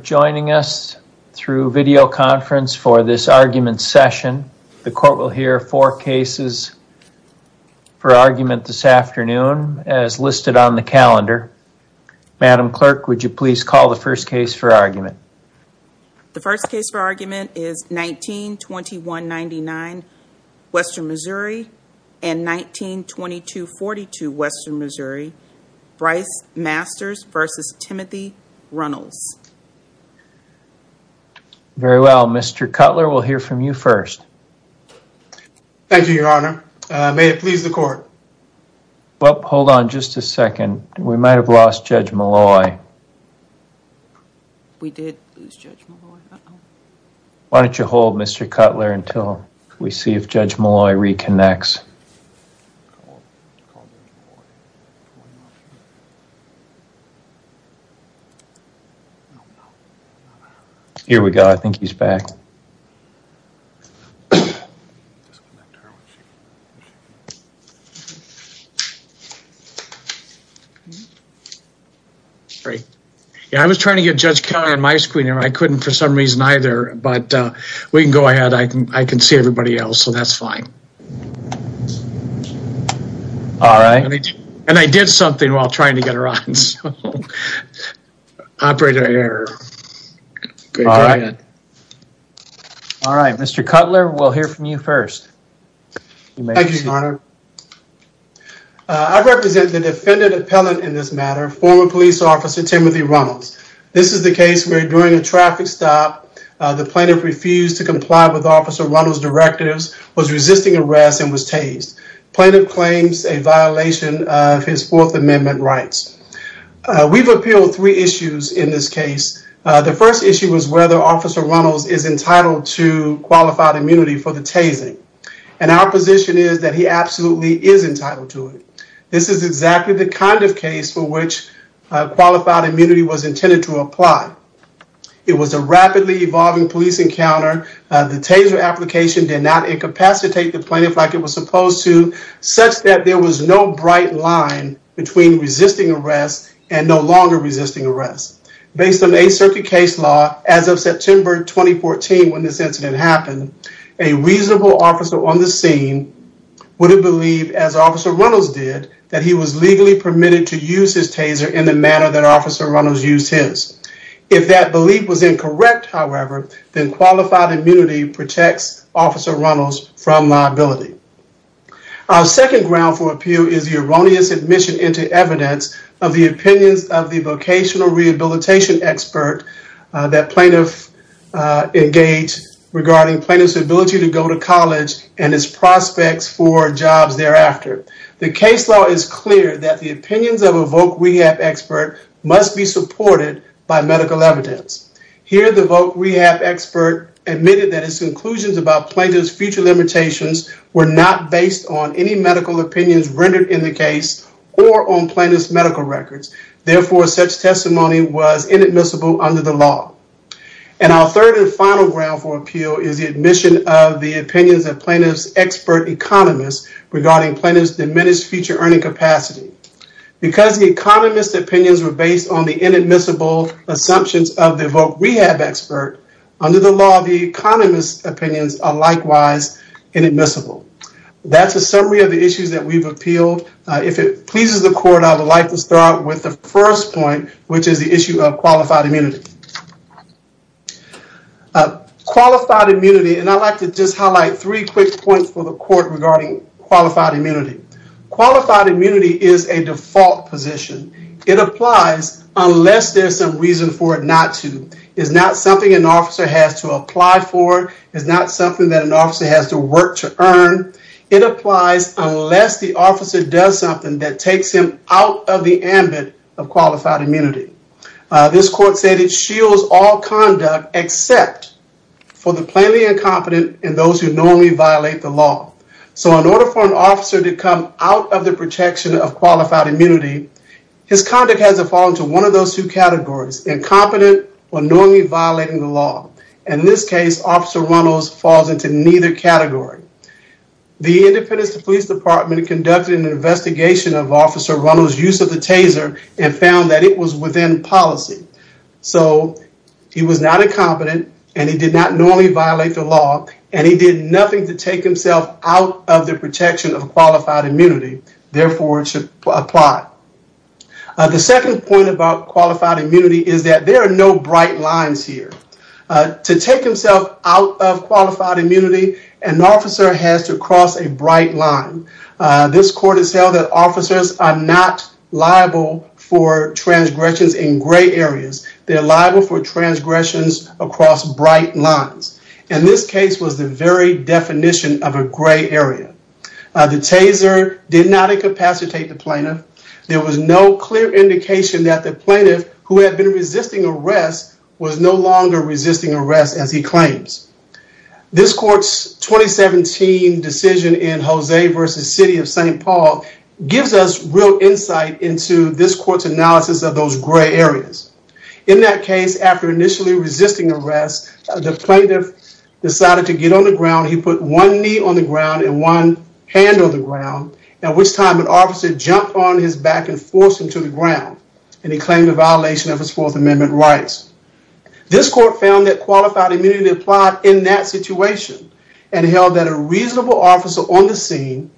Joining us through video conference for this argument session. The court will hear four cases for argument this afternoon as listed on the calendar. Madam Clerk, would you please call the first case for argument? The first case for argument is 19-2199 Western Missouri and 19-2242 Western Missouri, Bryce Masters v. Timothy Runnels. Very well. Mr. Cutler, we'll hear from you first. Thank you, your honor. May it please the court. Well, hold on just a second. We might have lost Judge Malloy. We did lose Judge Malloy. Why don't you hold Mr. Cutler until we see if Judge Malloy reconnects. Here we go. I think he's back. Yeah, I was trying to get Judge Cutler on my screen here. I couldn't for some reason either, but we can go ahead. I can see everybody else, so that's fine. All right, and I did something while trying to get her on, so operator error. All right, Mr. Cutler, we'll hear from you first. Thank you, your honor. I represent the defendant appellant in this matter, former police officer Timothy Runnels. This is the case where during a traffic stop, the plaintiff refused to comply with officer Runnels' directives, was resisting arrest, and was tased. Plaintiff claims a violation of his fourth amendment rights. We've appealed three issues in this case. The first issue was whether officer Runnels is entitled to qualified immunity for the tasing, and our position is that he absolutely is entitled to it. This is exactly the kind of case for which qualified immunity was intended to apply. It was a rapidly evolving police encounter. The taser application did not incapacitate the plaintiff like it was supposed to, such that there was no bright line between resisting arrest and no longer resisting arrest. Based on a circuit case law, as of September 2014 when this incident happened, a reasonable officer on the scene would have believed, as officer Runnels did, that he was legally permitted to use his taser in the manner that officer Runnels used his. If that belief was incorrect, however, then qualified immunity protects officer Runnels from liability. Our second ground for appeal is the erroneous admission into evidence of the opinions of the vocational rehabilitation expert that plaintiff engaged regarding plaintiff's ability to go to college and his prospects for jobs thereafter. The case law is clear that the medical evidence. Here the voc rehab expert admitted that his conclusions about plaintiff's future limitations were not based on any medical opinions rendered in the case or on plaintiff's medical records. Therefore, such testimony was inadmissible under the law. And our third and final ground for appeal is the admission of the opinions of plaintiff's expert economists regarding plaintiff's diminished future earning capacity. Because the economist's opinions were inadmissible assumptions of the voc rehab expert, under the law, the economist's opinions are likewise inadmissible. That's a summary of the issues that we've appealed. If it pleases the court, I would like to start with the first point, which is the issue of qualified immunity. Qualified immunity, and I'd like to just highlight three quick points for the court regarding qualified immunity. Qualified immunity is a default position. It applies unless there's some reason for it not to. It's not something an officer has to apply for. It's not something that an officer has to work to earn. It applies unless the officer does something that takes him out of the ambit of qualified immunity. This court said it shields all conduct except for the plainly officer. In order for an officer to come out of the protection of qualified immunity, his conduct has to fall into one of those two categories, incompetent or normally violating the law. In this case, Officer Runnels falls into neither category. The Independence Police Department conducted an investigation of Officer Runnels' use of the taser and found that it was within policy. So he was not incompetent, and he did not normally violate the law, and he did nothing to take out of the protection of qualified immunity. Therefore, it should apply. The second point about qualified immunity is that there are no bright lines here. To take himself out of qualified immunity, an officer has to cross a bright line. This court has held that officers are not liable for transgressions in gray areas. They're liable for transgressions across bright lines, and this case was the very definition of a gray area. The taser did not incapacitate the plaintiff. There was no clear indication that the plaintiff, who had been resisting arrest, was no longer resisting arrest, as he claims. This court's 2017 decision in Jose v. City of St. Paul gives us real insight into this court's gray areas. In that case, after initially resisting arrest, the plaintiff decided to get on the ground. He put one knee on the ground and one hand on the ground, at which time an officer jumped on his back and forced him to the ground, and he claimed a violation of his Fourth Amendment rights. This court found that qualified immunity applied in that situation and held that a reasonable officer on the scene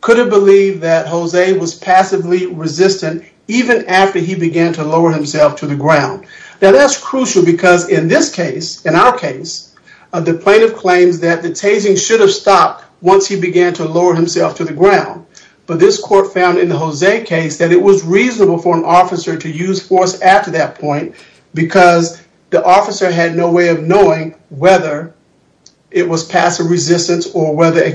could have believed that Jose was passively resistant even after he began to lower himself to the ground. Now, that's crucial because in this case, in our case, the plaintiff claims that the tasing should have stopped once he began to lower himself to the ground, but this court found in the Jose case that it was reasonable for an officer to use force after that point because the officer had no way of knowing whether it was passive What I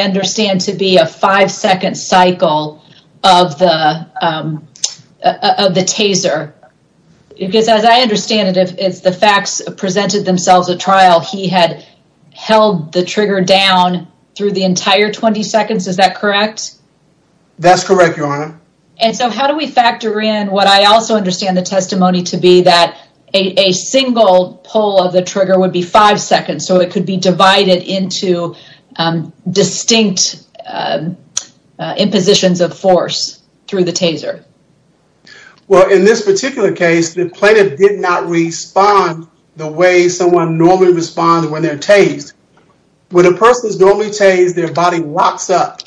understand to be a five-second cycle of the taser, because as I understand it, if the facts presented themselves at trial, he had held the trigger down through the entire 20 seconds, is that correct? That's correct, your honor. And so how do we factor in what I also understand the testimony to be, that a single pull of the trigger would be five seconds, so it could be divided into distinct impositions of force through the taser? Well, in this particular case, the plaintiff did not respond the way someone normally responds when they're tased. When a person is normally tased, their body locks up.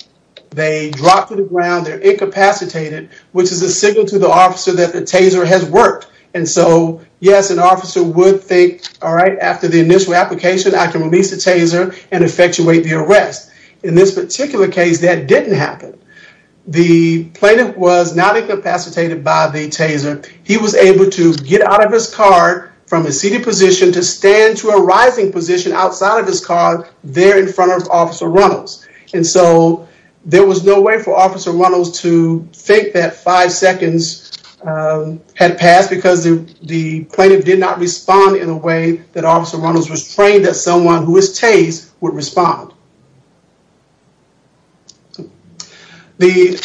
They drop to the ground, they're incapacitated, which is a signal to the officer that the taser has worked. And so, yes, an officer would think, after the initial application, I can release the taser and effectuate the arrest. In this particular case, that didn't happen. The plaintiff was not incapacitated by the taser. He was able to get out of his car from a seated position to stand to a rising position outside of his car there in front of Officer Runnels. And so there was no way for Officer Runnels to think that five seconds would be enough to respond in a way that Officer Runnels was trained as someone who was tased would respond. The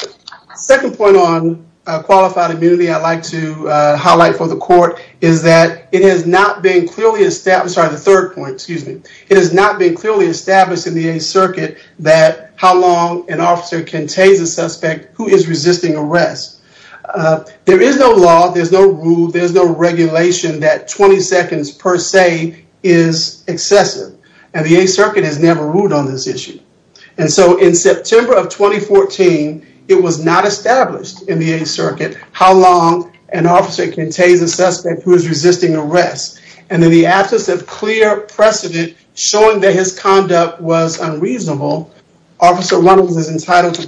second point on qualified immunity I'd like to highlight for the court is that it has not been clearly established, sorry, the third point, excuse me, it has not been clearly established in the Eighth Circuit that how long an officer can tase a suspect who is resisting arrest. There is no law, there's no rule, there's no regulation that 20 seconds per se is excessive. And the Eighth Circuit has never ruled on this issue. And so in September of 2014, it was not established in the Eighth Circuit how long an officer can tase a suspect who is resisting arrest. And in the absence of clear precedent showing that his conduct was unreasonable, Officer Runnels is entitled to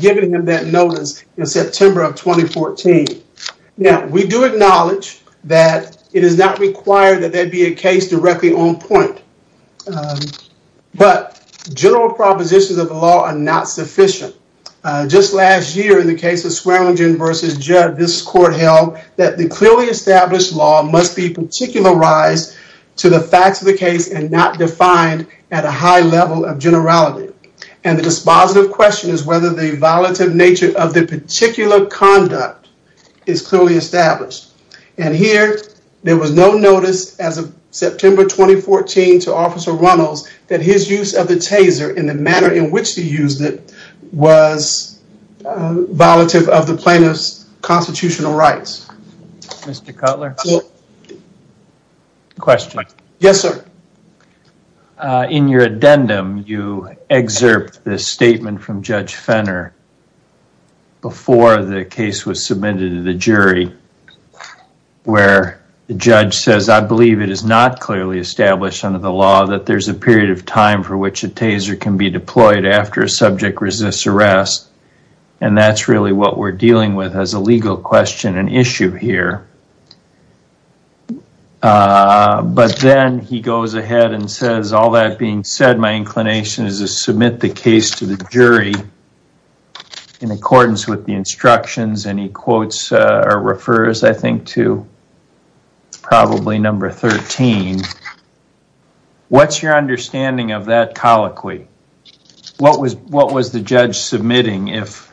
giving him that notice in September of 2014. Now, we do acknowledge that it is not required that there be a case directly on point. But general propositions of the law are not sufficient. Just last year in the case of Swearingen v. Judd, this court held that the clearly established law must be particularized to the facts of the case and not defined at a high level of generality. And the dispositive question is whether the violative nature of the particular conduct is clearly established. And here, there was no notice as of September 2014 to Officer Runnels that his use of the taser and the manner in which he used it was violative of the plaintiff's constitutional rights. Mr. Cutler? Yes, sir. In your addendum, you excerpt this statement from Judge Fenner before the case was submitted to the jury, where the judge says, I believe it is not clearly established under the law that there's a period of time for which a taser can be deployed after a subject resists arrest. And that's really what we're dealing with as a legal question and a case. But then he goes ahead and says, all that being said, my inclination is to submit the case to the jury in accordance with the instructions. And he quotes or refers, I think, to probably number 13. What's your understanding of that colloquy? What was the judge submitting if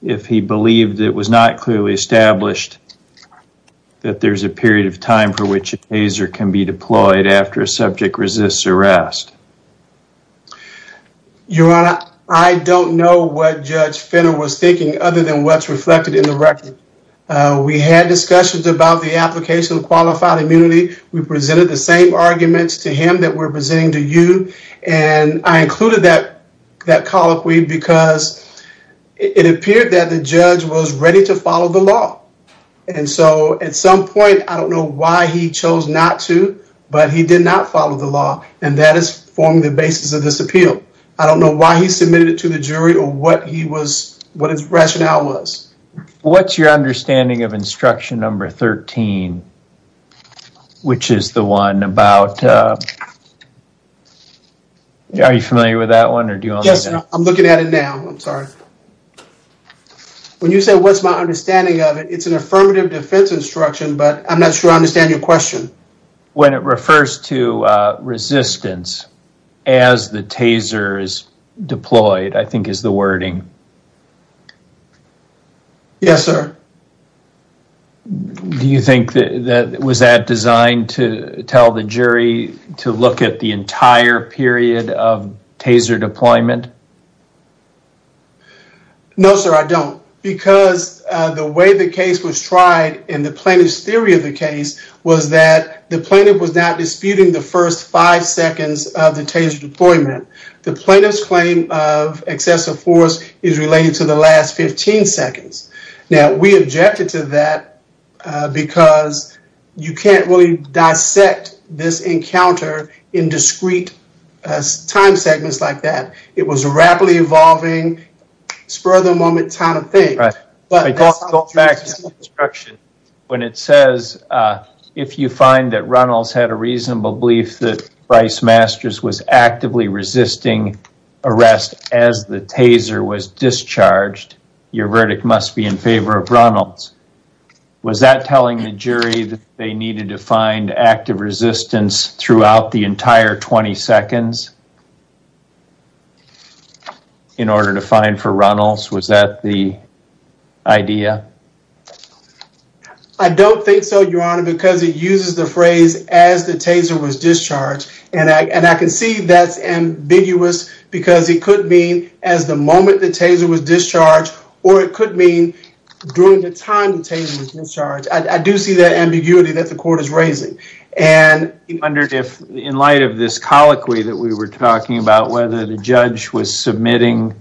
he believed it was not clearly established that there's a period of time for which a taser can be deployed after a subject resists arrest? Your Honor, I don't know what Judge Fenner was thinking other than what's reflected in the record. We had discussions about the application of qualified immunity. We presented the same arguments to him that we're presenting to you. And I included that colloquy because it appeared that the judge was ready to follow the law. And so at some point, I don't know why he chose not to, but he did not follow the law. And that has formed the basis of this appeal. I don't know why he submitted it to the jury or what his rationale was. What's your understanding of instruction number 13, which is the one about... Are you familiar with that one? Yes, I'm looking at it now. I'm sorry. When you say what's my understanding of it, it's an affirmative defense instruction, but I'm not sure I understand your question. When it refers to resistance as the taser is deployed, I think is the wording. Yes, sir. Do you think that was that designed to tell the jury to look at the entire period of taser deployment? No, sir, I don't. Because the way the case was tried in the plaintiff's theory of the case was that the plaintiff was not disputing the first five seconds of the taser deployment. The plaintiff's claim of excessive force is related to the last 15 seconds. Now, we objected to that because you can't really dissect this encounter in discrete time segments like that. It was rapidly evolving, spur of the moment kind of thing. Going back to the instruction, when it says, if you find that Reynolds had a reasonable belief that Bryce Masters was actively resisting arrest as the taser was discharged, your verdict must be in favor of Reynolds. Was that telling the jury that they needed to find active resistance throughout the entire 20 seconds in order to find for Reynolds? Was that the idea? I don't think so, your honor, because it uses the phrase as the taser was discharged, and I can see that's ambiguous because it could mean as the moment the taser was discharged, or it could mean during the time the taser was discharged. I do see that ambiguity that the court is raising. I wondered if, in light of this colloquy that we were talking about, whether the judge was submitting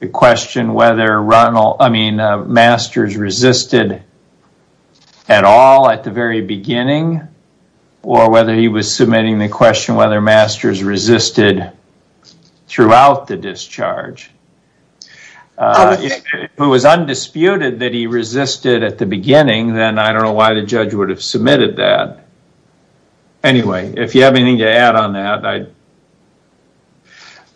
the question whether Reynolds, I mean, Masters resisted at all at the very beginning, or whether he was submitting the question whether Masters resisted throughout the discharge. If it was undisputed that he resisted at the beginning, then I don't know why the judge would have submitted that. Anyway, if you have anything to add on that.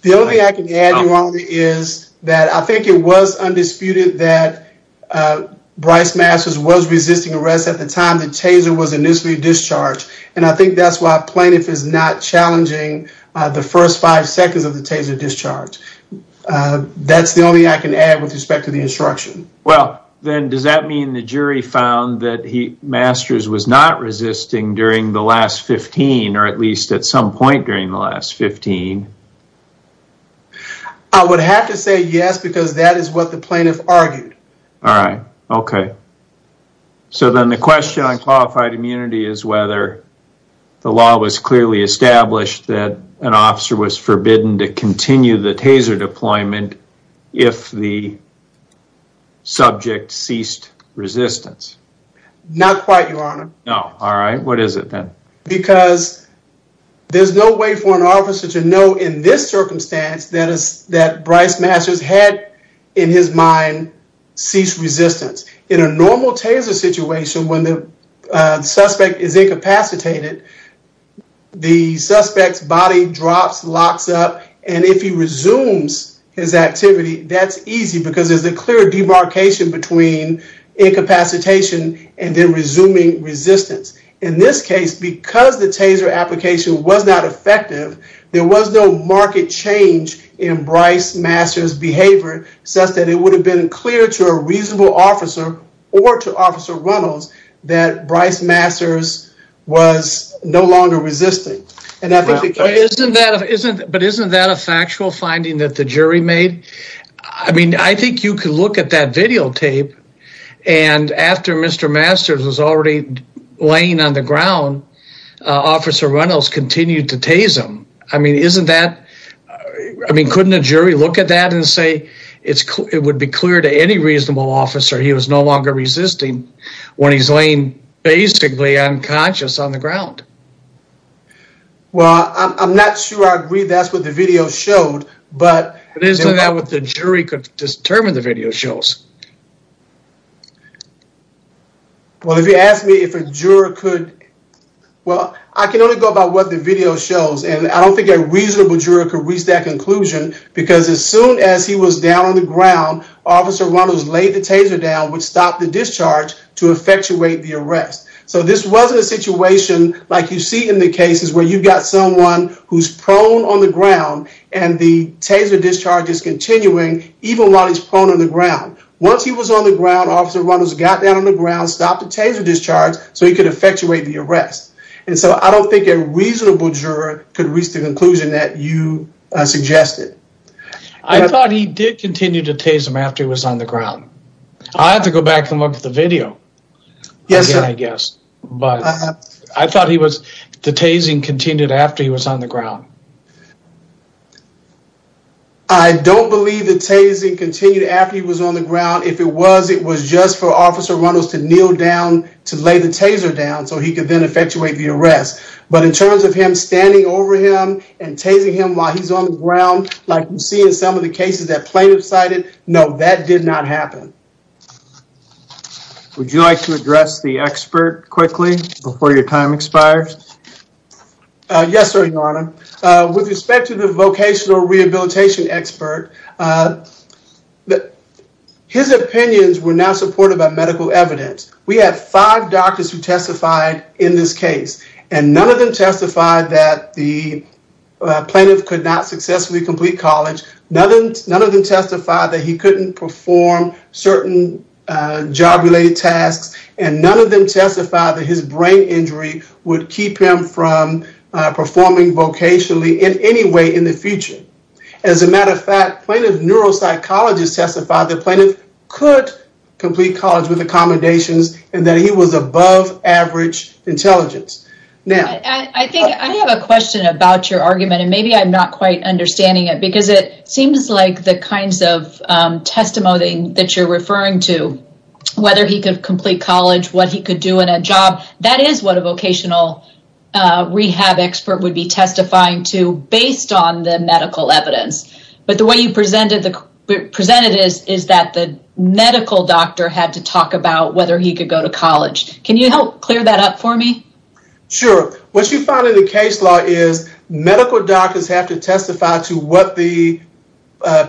The only thing I can add, your honor, is that I think it was undisputed that Bryce Masters was resisting arrest at the time the taser was initially discharged, and I think that's why plaintiff is not challenging the first five seconds of the taser discharge. That's the only I can add with respect to the instruction. Well, then does that mean the jury found that Masters was not resisting during the last 15, or at least at some point during the last 15? I would have to say yes, because that is what the plaintiff argued. All right, okay. So then the question on qualified immunity is whether the law was clearly established that an officer was forbidden to continue the taser deployment if the subject ceased resistance. Not quite, your honor. No, all right. What is it then? Because there's no way for an officer to know in this circumstance that Bryce Masters had in his mind ceased resistance. In a normal taser situation when the suspect is incapacitated, the suspect's body drops, locks up, and if he resumes his activity, that's easy because there's a clear demarcation between incapacitation and then resuming resistance. In this case, because the taser application was not effective, there was no market change in Bryce Masters' behavior such that it would have been clear to a reasonable officer or to Officer Reynolds that Bryce Masters was no longer resisting. But isn't that a factual finding that the jury made? I mean, I think you could look at that videotape and after Mr. Masters was already laying on the ground, Officer Reynolds continued to tase him. I mean, couldn't a jury look at that and say it would be clear to any reasonable officer he was no longer resisting when he's laying basically unconscious on the ground? Well, I'm not sure I agree that's what the video showed. But isn't that what the jury could determine the video shows? Well, if you ask me if a juror could, well, I can only go about what the video shows and I don't think a reasonable juror could reach that conclusion because as soon as he was down on the ground, Officer Reynolds laid the taser down which stopped the discharge to effectuate the arrest. So this wasn't a situation like you see in the cases where you've got someone who's prone on the ground and the taser discharge is continuing even while he's prone on the ground. Once he was on the ground, Officer Reynolds got down on the ground, stopped the taser discharge so he could effectuate the arrest. And so I don't think a reasonable juror could reach the conclusion that you suggested. I thought he did continue to tase him after he was on the ground. I have to go back and look at the video again, I guess. But I thought the tasing continued after he was on the ground. I don't believe the tasing continued after he was on the ground. If it was, it was just for Officer Reynolds to kneel down to lay the taser down so he could then effectuate the arrest. But in terms of him standing over him and tasing him while he's on the ground, like you see in some of the cases that plaintiffs cited, no, that did not happen. Would you like to address the expert quickly before your time expires? Yes, sir, Your Honor. With respect to the vocational rehabilitation expert, his opinions were not supported by medical evidence. We had five doctors who testified in this case and none of them testified that the plaintiff could not successfully complete college. None of them testified that he couldn't perform certain job related tasks and none of them testified that his brain injury would keep him from performing vocationally in any way in the future. As a matter of fact, plaintiff neuropsychologists testified that the plaintiff could complete college with accommodations and that he was above average intelligence. I have a question about your argument and maybe I'm not quite understanding it because it seems like the kinds of testimony that you're referring to, whether he could complete college, what he could do in a job, that is what a vocational rehab expert would be testifying to based on the medical evidence. But the way you presented it is that the medical doctor had to talk about whether he could go to college. Can you help clear that up for me? Sure. What you find in the case law is medical doctors have to testify to what the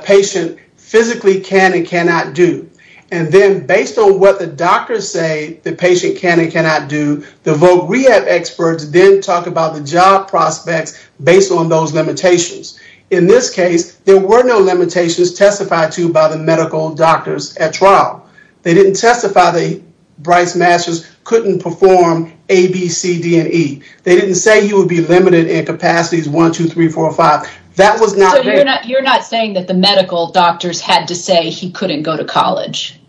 patient physically can and cannot do. And then based on what the doctors say the patient can and cannot do, the voc rehab experts then talk about the job prospects based on those limitations. In this case, there were no limitations testified to by the medical doctors at trial. They didn't testify that Bryce Masters couldn't perform A, B, C, D, and E. They didn't say he would be limited in he couldn't go to college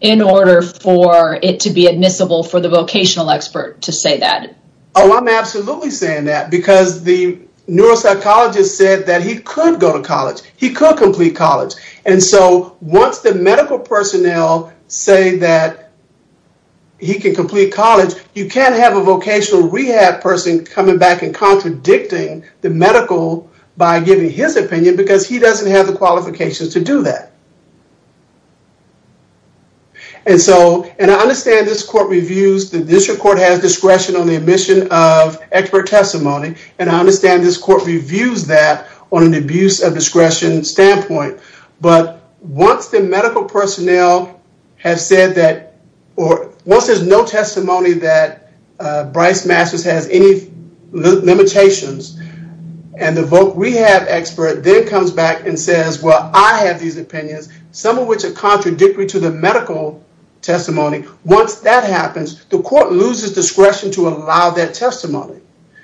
in order for it to be admissible for the vocational expert to say that. Oh, I'm absolutely saying that because the neuropsychologist said that he could go to college. He could complete college. And so once the medical personnel say that he can complete college, you can't have a vocational rehab person coming back and contradicting the medical by giving his opinion because he doesn't have the qualifications to do that. And so and I understand this court reviews the district court has discretion on the admission of expert testimony. And I understand this court reviews that on an abuse of discretion standpoint. But once the medical personnel have said that or once there's no testimony that Bryce Masters has any limitations and the voc rehab expert then comes back and says, well, I have these opinions, some of which are contradictory to the medical testimony. Once that happens, the court loses discretion to allow that testimony.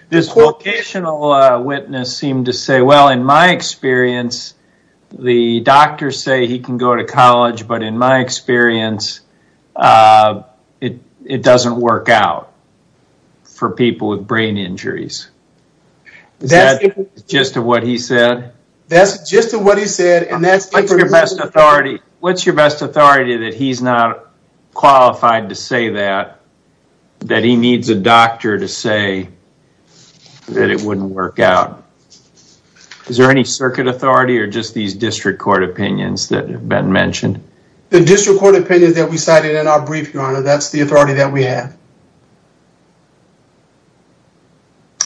This vocational witness seemed to say, well, in my experience, the doctors say he can go to college, but in my experience, uh, it, it doesn't work out for people with brain injuries. That's just what he said. That's just what he said. And that's your best authority. What's your best authority that he's not qualified to say that, that he needs a doctor to say that it wouldn't work out. Is there any circuit authority or just these district court opinions that have been mentioned? The district court opinions that we cited in our brief, your honor, that's the authority that we have.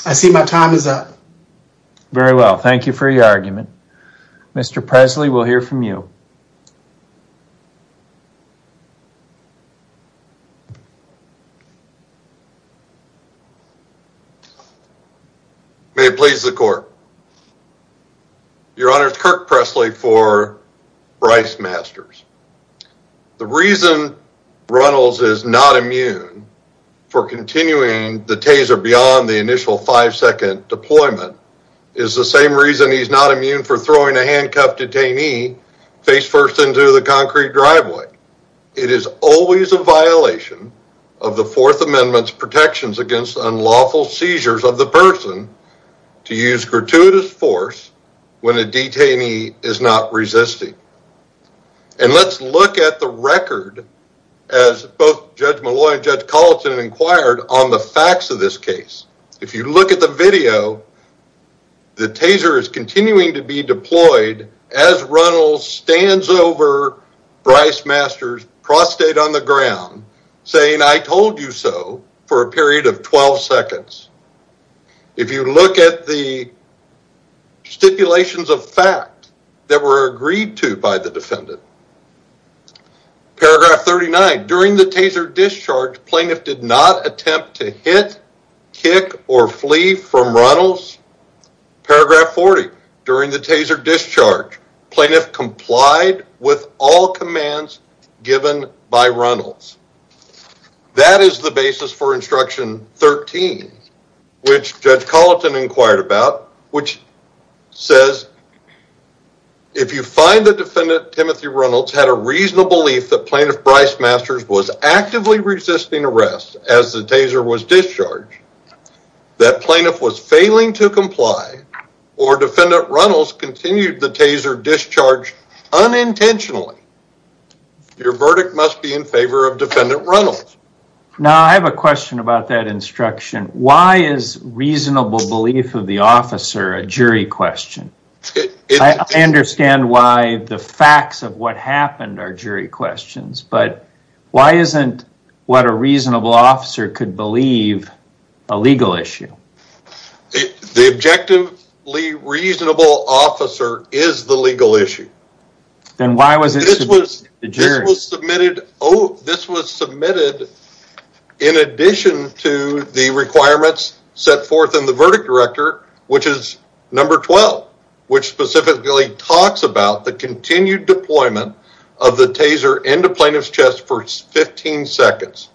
I see my time is up. Very well. Thank you for your argument. Mr. Presley, we'll hear from you. May it please the court. Your honor, Kirk Presley for Bryce Masters. The reason Reynolds is not immune for continuing the taser beyond the initial five second deployment is the same reason he's not immune for throwing a handcuffed detainee face first into the concrete driveway. It is always a violation of the fourth amendments protections against unlawful seizures of the person to use gratuitous force when a detainee is not resisting. And let's look at the record as both judge Malloy and judge Colleton inquired on the facts of this case. If you look at the video, the taser is continuing to be deployed as Reynolds stands over Bryce Masters prostate on the ground saying I told you so for a period of 12 seconds. If you look at the stipulations of fact that were agreed to by the defendant. Paragraph 39, during the taser discharge, plaintiff did not attempt to hit, kick, or flee from Reynolds. Paragraph 40, during the taser discharge, plaintiff complied with all commands given by Reynolds. That is the basis for instruction 13, which judge Colleton inquired about, which says if you find the defendant Reynolds had a reasonable belief that plaintiff Bryce Masters was actively resisting arrest as the taser was discharged, that plaintiff was failing to comply, or defendant Reynolds continued the taser discharge unintentionally, your verdict must be in favor of defendant Reynolds. Now I have a question about that instruction. Why is reasonable belief of the officer a jury question? I understand why the facts of what happened are jury questions, but why isn't what a reasonable officer could believe a legal issue? The objectively reasonable officer is the legal issue. Then why was it submitted to the jury? This was submitted in addition to the requirements set forth in the verdict director, which is number 12, which specifically talks about the continued deployment of the taser into plaintiff's chest for 15 seconds.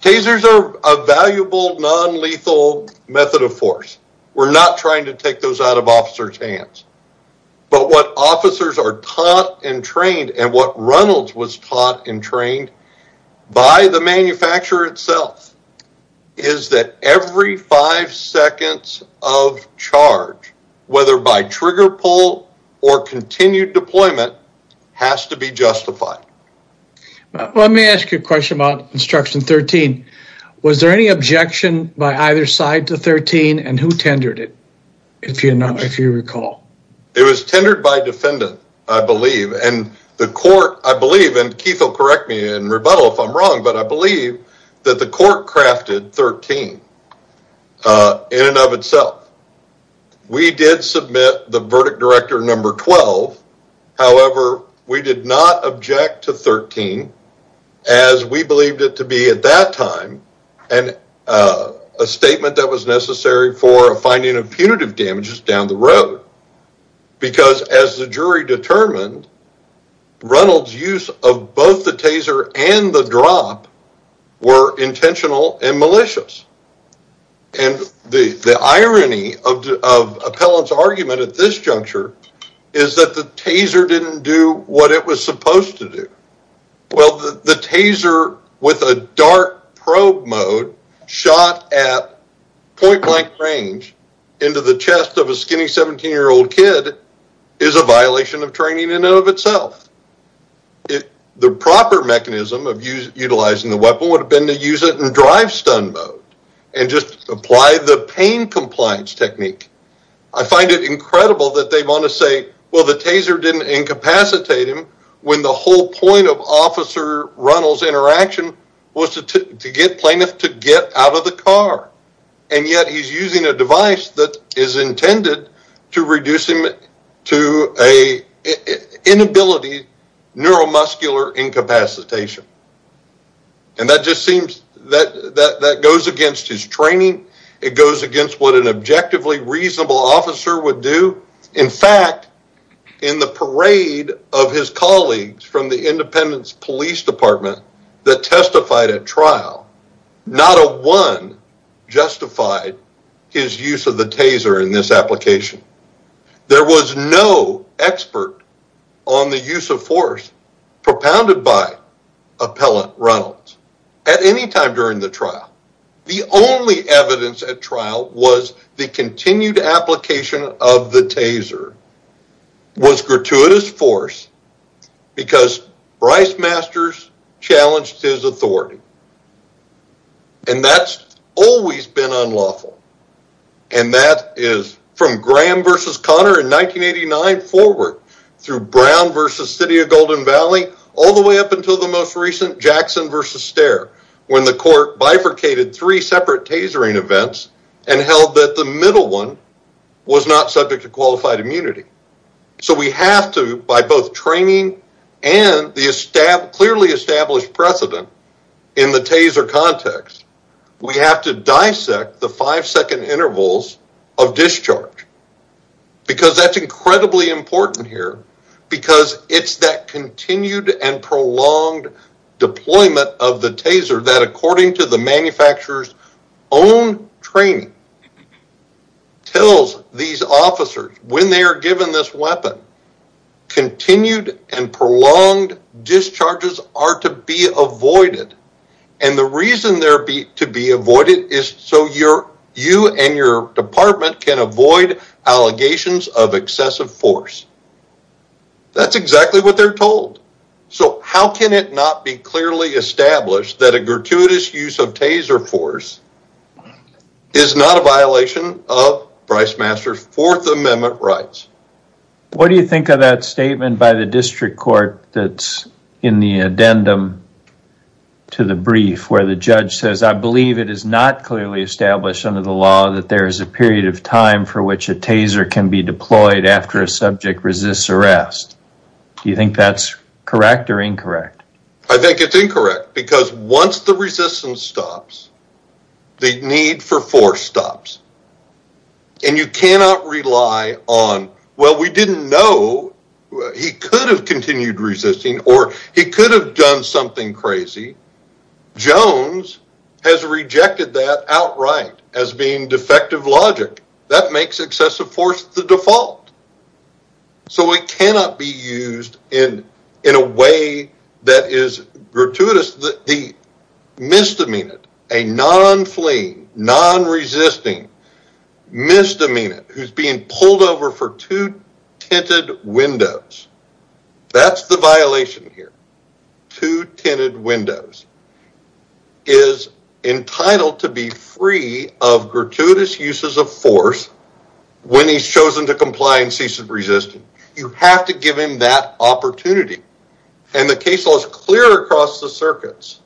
Tasers are a valuable, non-lethal method of force. We're not trying to take those out of officer's hands, but what officers are taught and trained and what Reynolds was taught and trained by the manufacturer itself is that every five seconds of charge, whether by trigger pull or continued deployment, has to be justified. Let me ask you a question about instruction 13. Was there any objection by either side to 13 and who tendered it, if you recall? It was tendered by defendant, I believe, and the court, I believe, and Keith will correct me in rebuttal if I'm wrong, but I believe that the court crafted 13 in and of itself. We did submit the verdict director number 12. However, we did not object to 13 as we believed it to be at that time, and a statement that was necessary for a finding of punitive damages down the road, because as the jury determined, Reynolds' use of both the taser and the drop were intentional and malicious. The irony of Appellant's argument at this juncture is that the taser didn't do what it was supposed to do. The taser with a dark probe mode shot at point blank range into the chest of a skinny 17-year-old kid is a violation of training in and of itself. The proper mechanism of utilizing the weapon would have been to use it in drive stun mode and just apply the pain compliance technique. I find it incredible that they want to say, well, the taser didn't incapacitate him when the whole point of Officer Reynolds' interaction was to get plaintiff to get out of the car, and yet he's using a device that is intended to reduce him to an inability neuromuscular incapacitation. That goes against his training. It goes against what an objectively reasonable officer would do. In fact, in the parade of his colleagues from the Independence Police Department that testified at trial, not a one justified his use of the taser in this application. There was no expert on the use of force propounded by Appellant Reynolds at any time during the trial. The only evidence at trial was the continued application of the taser was gratuitous force because Brice Masters challenged his authority. And that's always been unlawful. And that is from Graham versus Connor in 1989 forward, through Brown versus City of Golden Valley, all the way up until the most recent Jackson versus Stare, when the court bifurcated three separate tasering events and held that the middle one was not subject to qualified immunity. So we have to, by both training and the clearly established precedent in the taser context, we have to dissect the five second intervals of discharge. Because that's incredibly important here. Because it's that continued and prolonged deployment of the taser that, according to the manufacturer's own training, tells these officers when they are given this weapon, continued and prolonged discharges are to be avoided. And the reason they're to be avoided is so you and your department can avoid allegations of excessive force. That's exactly what they're told. So how can it not be clearly established that a gratuitous use of taser force is not a violation of Brice Masters' Fourth Amendment rights? What do you think of that statement by the district court that's in the addendum to the brief where the judge says, I believe it is not clearly established under the law that there is a period of time for which a taser can be deployed after a subject resists arrest. Do you think that's correct or incorrect? I think it's incorrect. Because once the resistance stops, the need for force stops. And you cannot rely on, well, we didn't know he could have continued resisting or he could have done something crazy. Jones has rejected that outright as being defective logic. That makes excessive force the default. So it cannot be used in a way that is gratuitous. The misdemeanant, a non-fleeing, non-resisting misdemeanant who's being pulled over for two tinted windows, that's the violation here. Two tinted windows is entitled to be free of gratuitous uses of force when he's chosen to comply and ceases resisting. You have to give him that opportunity. And the case law is clear across the circuits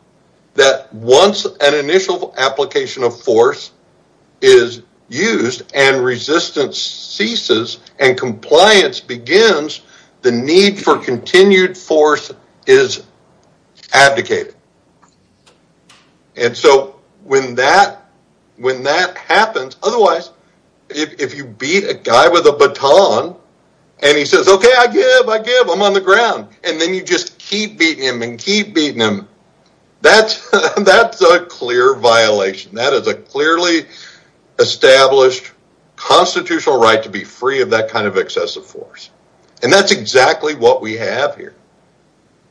that once an initial application of force is used and resistance ceases and compliance begins, the need for continued force is abdicated. And so when that happens, otherwise, if you beat a guy with a baton and he says, okay, I give, I give, I'm on the ground, and then you just keep beating him and keep beating him, that's, that's a clear violation. That is a clearly established constitutional right to be free of that kind of excessive force. And that's exactly what we have here.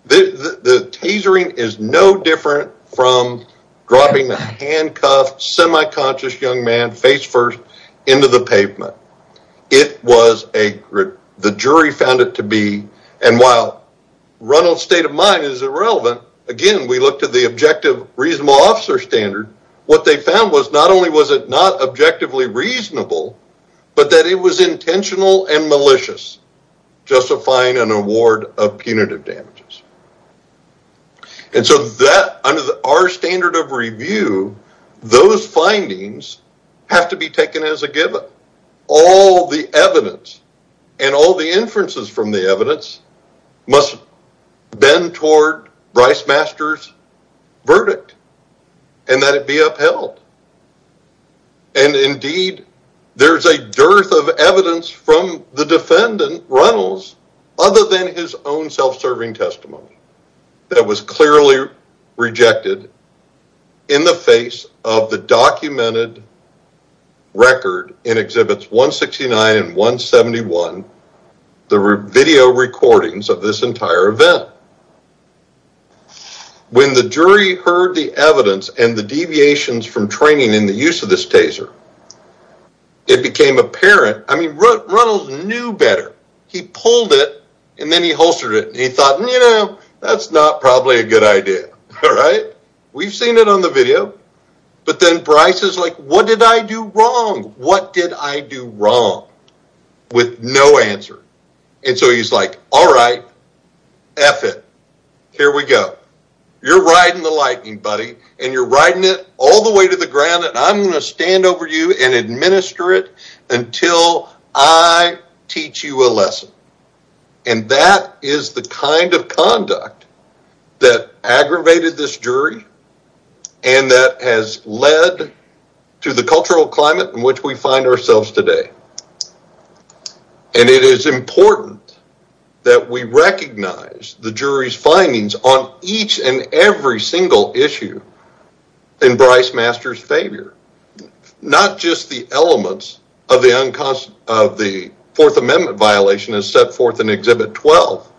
The tasering is no different from dropping a handcuffed, semi-conscious young man, face first into the pavement. It was a, the jury found it to be, and while Reynolds' state of mind is irrelevant, again, we looked at the objective reasonable officer standard. What they found was not only was it not objectively reasonable, but that it was intentional and malicious, justifying an award of punitive damages. And so that, under our standard of review, those findings have to be taken as a given. All the evidence and all the inferences from the evidence must bend toward Brice Master's verdict and that it be upheld. And indeed, there's a dearth of evidence from the defendant, Reynolds, other than his own self-serving testimony that was clearly rejected in the face of the documented record in Exhibits 169 and 171, the video recordings of this entire event. When the jury heard the evidence and the deviations from training in the use of this taser, it became apparent, I mean, Reynolds knew better. He pulled it and then he holstered it and he thought, you know, that's not probably a good idea. All right. We've seen it on the video. But then Brice is like, what did I do wrong? What did I do wrong? With no answer. And so he's like, all right, F it. Here we go. You're riding the lightning, buddy. And you're riding it all the way to the ground. And I'm going to stand over you and administer it until I teach you a lesson. And that is the kind of conduct that aggravated this jury and that has led to the cultural climate in which we find ourselves today. And it is important that we recognize the jury's findings on each and every single issue in Brice Masters' favor. Not just the elements of the Fourth Amendment violation as set forth in Exhibit 12,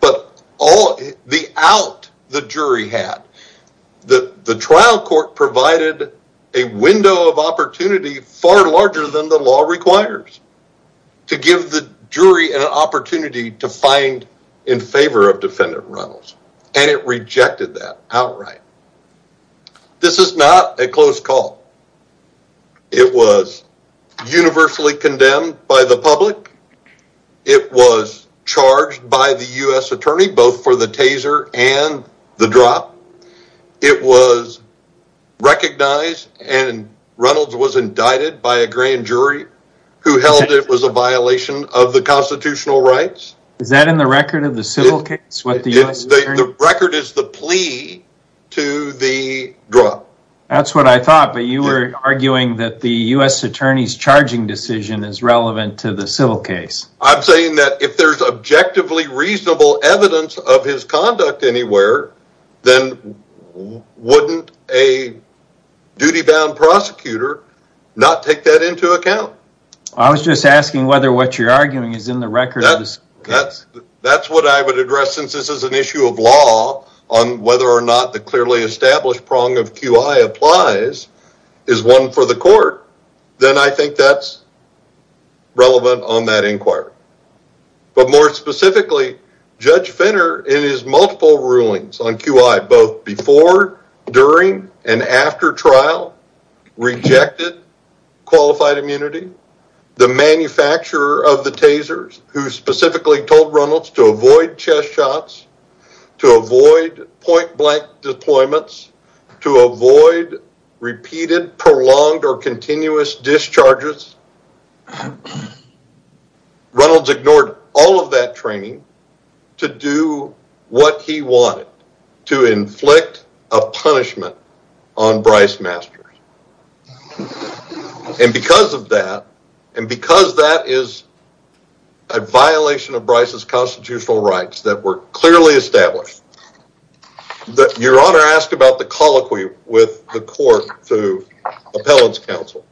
but all the out the jury had. The trial court provided a window of opportunity far larger than the law requires to give the jury an opportunity to find in favor of defendant Reynolds. And it rejected that outright. This is not a close call. It was universally condemned by the public. It was charged by the U.S. attorney, both for the taser and the drop. It was recognized and Reynolds was indicted by a grand jury who held it was a violation of the record is the plea to the drop. That's what I thought, but you were arguing that the U.S. attorney's charging decision is relevant to the civil case. I'm saying that if there's objectively reasonable evidence of his conduct anywhere, then wouldn't a duty-bound prosecutor not take that into account? I was just asking whether what you're arguing is in the record. That's what I would address since this is an issue of law on whether or not the clearly established prong of QI applies is one for the court, then I think that's relevant on that inquiry. But more specifically, Judge Finner in his multiple rulings on QI, both before, during, and after trial, rejected qualified immunity. The manufacturer of the tasers, who specifically told Reynolds to avoid chest shots, to avoid point blank deployments, to avoid repeated prolonged or continuous discharges. Reynolds ignored all of that training to do what he wanted, to inflict a punishment on Bryce Masters. And because of that, and because that is a violation of Bryce's constitutional rights that were clearly established, your honor asked about the colloquy with the court through appellate's counsel.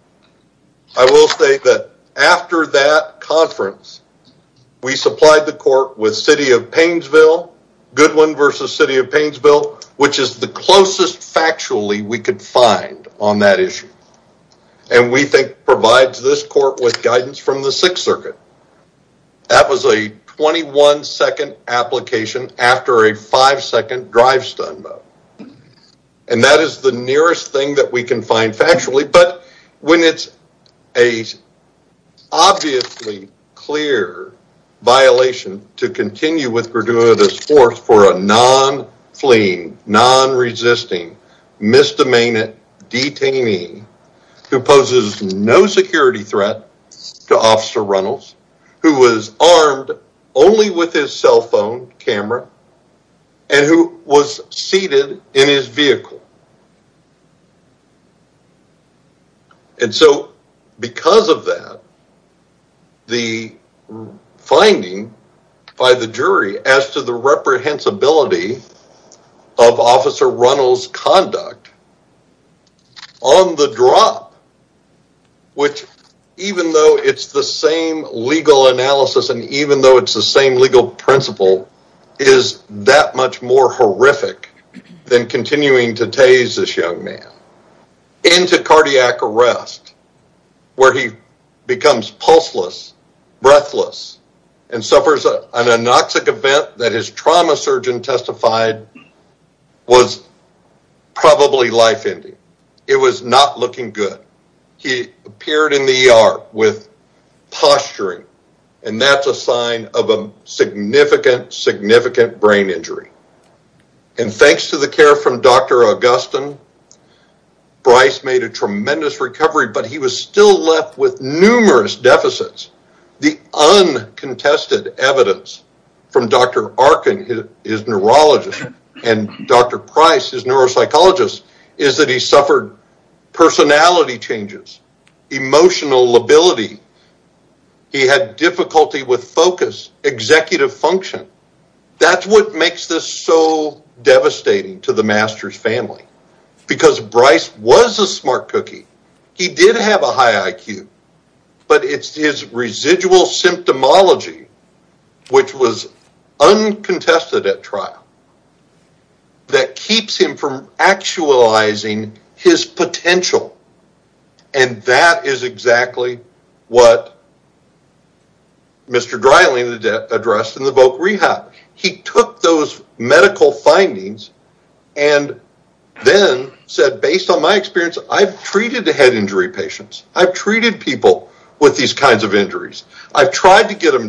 I will state that after that conference, we supplied the court with City of Painesville, Goodwin versus City of Painesville, which is the we could find on that issue. And we think provides this court with guidance from the Sixth Circuit. That was a 21-second application after a five-second drive-stun vote. And that is the nearest thing that we can find factually. But when it's an obviously clear violation to continue with Graduatus Force for a non-fleeing, non-resisting, misdemeanant detainee, who poses no security threat to Officer Reynolds, who was armed only with his cell phone camera, and who was seated in his vehicle. And so because of that, the finding by the jury as to the reprehensibility of Officer Reynolds' conduct on the drop, which even though it's the same legal analysis and even though it's the same legal principle, is that much more horrific than continuing to tase this young man into cardiac arrest, where he becomes pulseless, breathless, and suffers an anoxic event that his trauma surgeon testified was probably life-ending. It was not looking good. He appeared in the ER with posturing, and that's a sign of a significant, significant brain injury. And thanks to the care from Dr. Augustin, Bryce made a tremendous recovery, but he was still left with numerous deficits. The uncontested evidence from Dr. Arkin, his neurologist, and Dr. Price, his neuropsychologist, is that he suffered personality changes, emotional lability, he had difficulty with focus, executive function. That's what makes this so devastating to the Masters family, because Bryce was a smart cookie. He did have a high IQ, but it's his residual from actualizing his potential, and that is exactly what Mr. Dryling addressed in the VOC Rehab. He took those medical findings and then said, based on my experience, I've treated the head injury patients. I've treated people with these kinds of injuries. I've tried to get them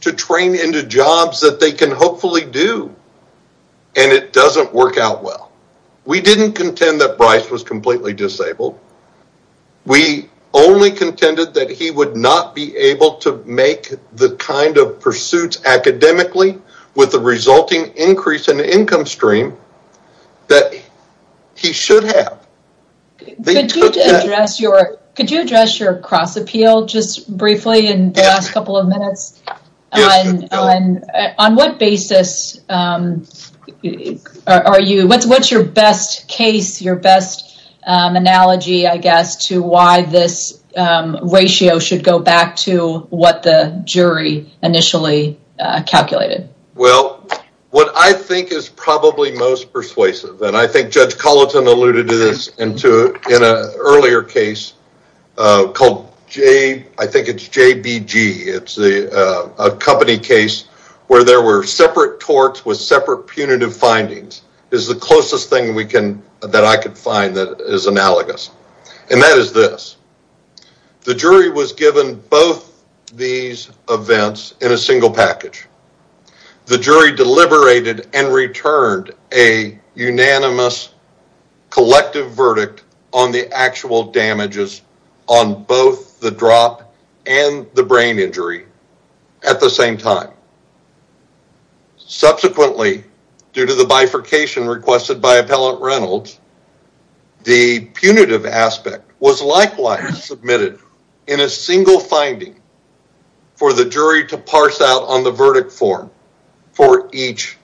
to train into jobs that they can hopefully do, and it doesn't work out well. We didn't contend that Bryce was completely disabled. We only contended that he would not be able to make the kind of pursuits academically with the resulting increase in income stream that he should have. Could you address your cross-appeal just briefly in the last couple of minutes? On what basis, what's your best case, your best analogy, I guess, to why this ratio should go back to what the jury initially calculated? Well, what I think is probably most persuasive, and I think Judge Colleton alluded to this in an earlier case called, I think it's JBG. It's a company case where there were separate torts with separate punitive findings. It's the closest thing that I could find that is analogous, and that is this. The jury was given both these events in a single package. The jury deliberated and returned a unanimous collective verdict on the actual damages on both the drop and the brain injury at the same time. Subsequently, due to the bifurcation requested by Appellant Reynolds, the punitive aspect was likewise submitted in a single finding for the jury to parse out on the verdict form for each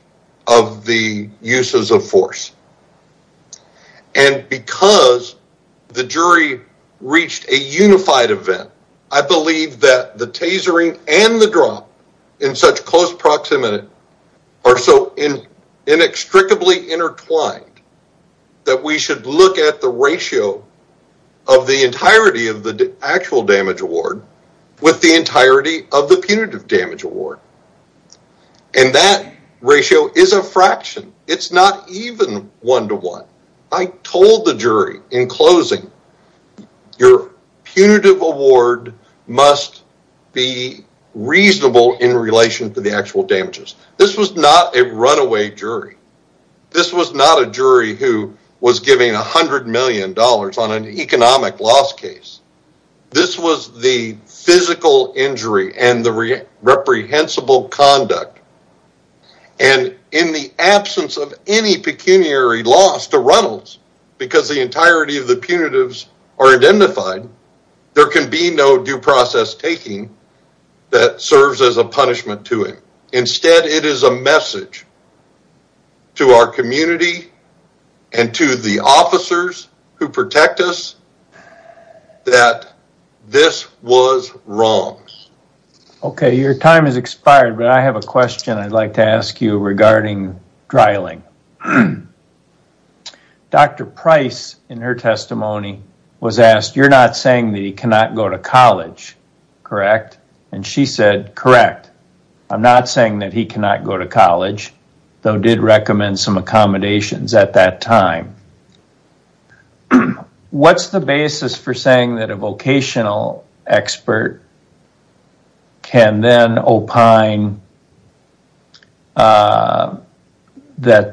of the uses of force. Because the jury reached a unified event, I believe that the tasering and the drop in such close proximity are so inextricably intertwined that we should look at the ratio of the entirety of the actual damage award with the entirety of the punitive damage award. That ratio is a fraction. It's not even one-to-one. I told the jury in closing, your punitive award must be reasonable in relation to the actual damages. This was not a runaway jury. This was not a jury who was giving $100 million on an economic loss case. This was the physical injury and the reprehensible conduct. In the absence of any pecuniary loss to are identified, there can be no due process taking that serves as a punishment to him. Instead, it is a message to our community and to the officers who protect us that this was wrong. Okay. Your time has expired, but I have a question I'd like to ask you regarding drilling. Dr. Price, in her testimony, was asked, you're not saying that he cannot go to college, correct? And she said, correct. I'm not saying that he cannot go to college, though did recommend some accommodations at that time. What's the basis for saying that a vocational expert can then opine that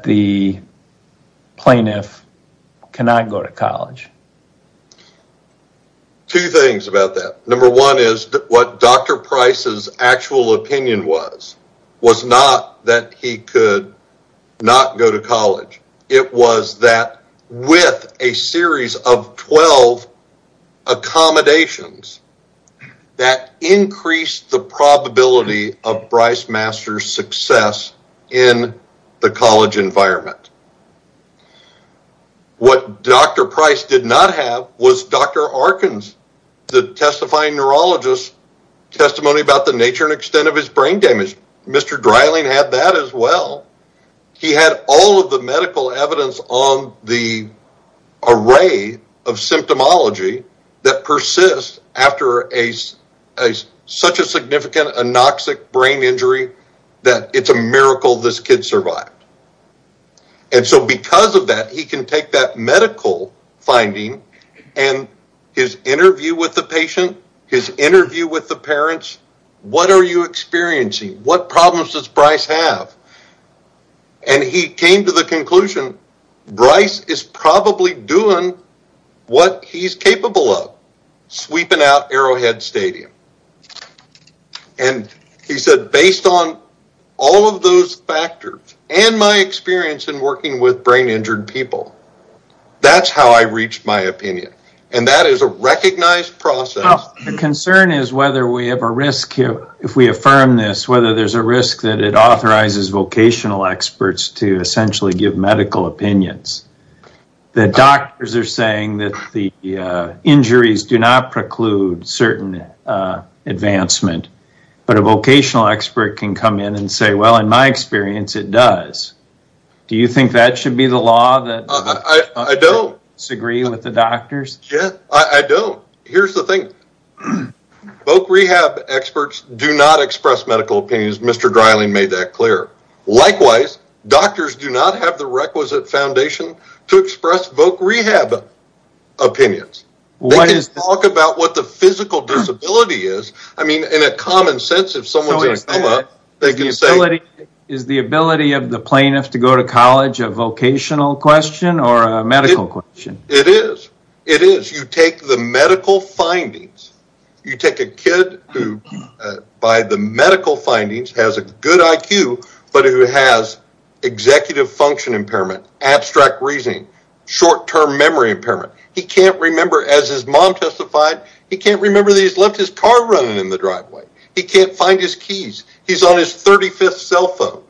the plaintiff cannot go to college? Two things about that. Number one is what Dr. Price's actual opinion was, was not that he could not go to college. It was that with a series of 12 accommodations that increased the probability of Bryce Master's success in the college environment. What Dr. Price did not have was Dr. Arkin's, the testifying neurologist, testimony about the nature and extent of his brain damage. Mr. Dryling had that as well. He had all of the medical evidence on the array of symptomology that persists after such a significant anoxic brain injury that it's a miracle this kid survived. And so because of that, he can take that medical finding and his interview with the patient, his interview with the parents, what are you experiencing? What problems does Bryce have? And he came to the conclusion, Bryce is probably doing what he's capable of, sweeping out Arrowhead Stadium. And he said, based on all of those factors and my experience in working with brain injured people, that's how I reached my opinion. And that is a recognized process. The concern is whether we have a risk here, if we affirm this, whether there's a risk that it authorizes vocational experts to essentially give medical opinions. The doctors are saying that the injuries do not preclude certain advancement, but a vocational expert can come in and say, well, in my experience, it does. Do you think that should be the law that I don't disagree with the doctors? Yeah, I don't. Here's the thing. Voc rehab experts do not express medical opinions. Mr. Dryling made that clear. Likewise, doctors do not have the requisite foundation to express voc rehab opinions. They can talk about what the physical disability is. I mean, in a common sense, is the ability of the plaintiff to go to college a vocational question or a medical question? It is. It is. You take the medical findings. You take a kid who, by the medical findings, has a good IQ, but who has executive function impairment, abstract reasoning, short-term memory impairment. He can't remember, as his mom testified, he can't remember that he's left his car running in the driveway. He can't find his keys. He's on his 35th cell phone.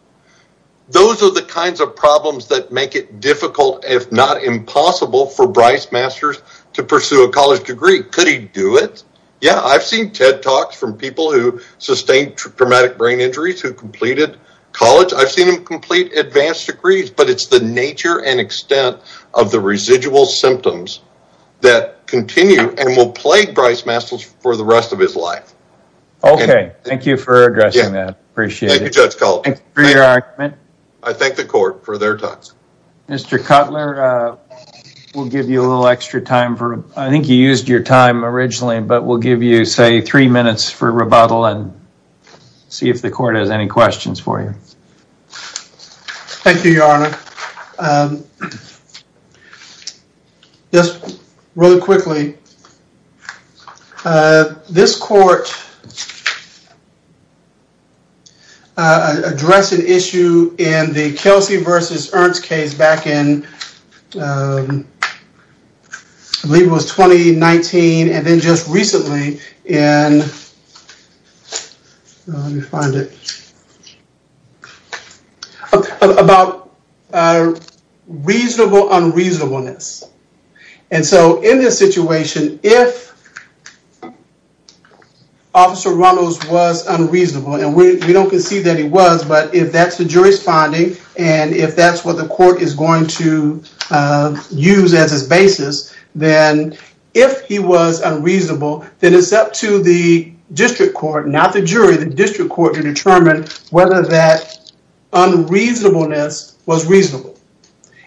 Those are the kinds of problems that make it difficult, if not impossible, for Bryce Masters to pursue a college degree. Could he do it? Yeah, I've seen TED Talks from people who sustained traumatic brain injuries who completed college. I've seen them complete advanced degrees, but it's the nature and extent of the residual symptoms that continue and will plague Bryce Masters for the rest of his life. Okay, thank you for addressing that. Appreciate it. Thank you, Judge Kalt. I thank the court for their time. Mr. Cutler, we'll give you a little extra time. I think you used your time originally, but we'll give you, say, three minutes for rebuttal and see if the court has any questions for you. Thank you, your honor. Just really quickly, this court addressed an issue in the Kelsey v. Ernst case back in, I believe it was 2019 and then just recently in, let me find it, about reasonable unreasonableness. And so, in this situation, if Officer Runnels was unreasonable, and we don't concede that he was, but if that's the jury's finding and if that's what the court is going to use as its basis, then if he was unreasonable, then it's up to the district court, not the jury, the district court to determine whether that unreasonableness was reasonable.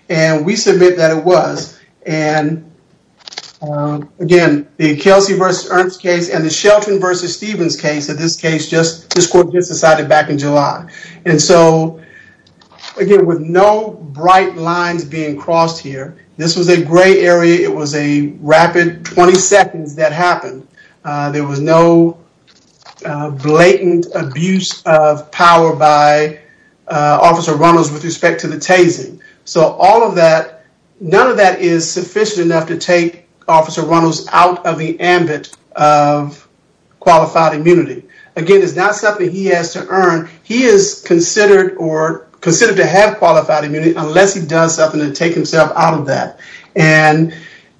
And we submit that it was. And again, the Kelsey v. Ernst case and the Shelton v. Stevens case, in this case, this court just decided back in July. And so, again, with no bright lines being crossed here, this was a gray area. It was a power by Officer Runnels with respect to the tasing. So all of that, none of that is sufficient enough to take Officer Runnels out of the ambit of qualified immunity. Again, it's not something he has to earn. He is considered or considered to have qualified immunity unless he does something to take himself out of that. And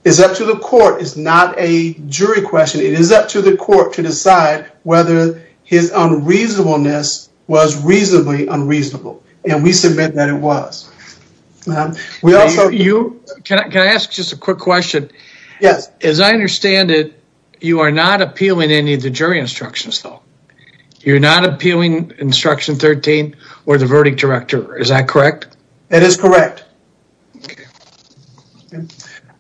it's up to the court. It's not a jury question. It is up to the district court to determine whether that unreasonableness was reasonably unreasonable. And we submit that it was. Can I ask just a quick question? Yes. As I understand it, you are not appealing any of the jury instructions though. You're not appealing instruction 13 or the verdict director. Is that correct? That is correct.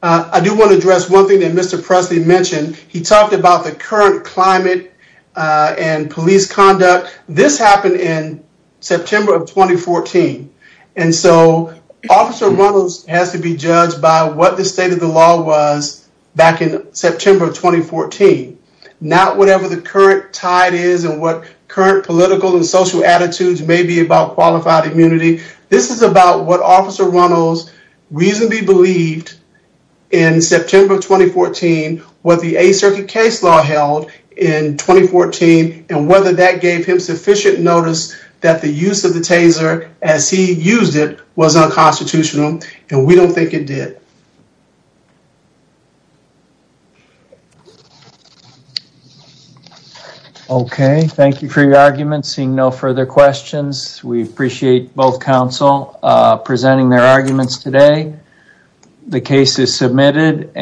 I do want to address one thing that Mr. Presley mentioned. He talked about the current climate and police conduct. This happened in September of 2014. And so, Officer Runnels has to be judged by what the state of the law was back in September of 2014, not whatever the current tide is and what current political and social attitudes may be about qualified immunity. This is about what and whether that gave him sufficient notice that the use of the taser as he used it was unconstitutional. And we don't think it did. Okay. Thank you for your argument. Seeing no further questions, we appreciate both counsel presenting their arguments today. The case is submitted.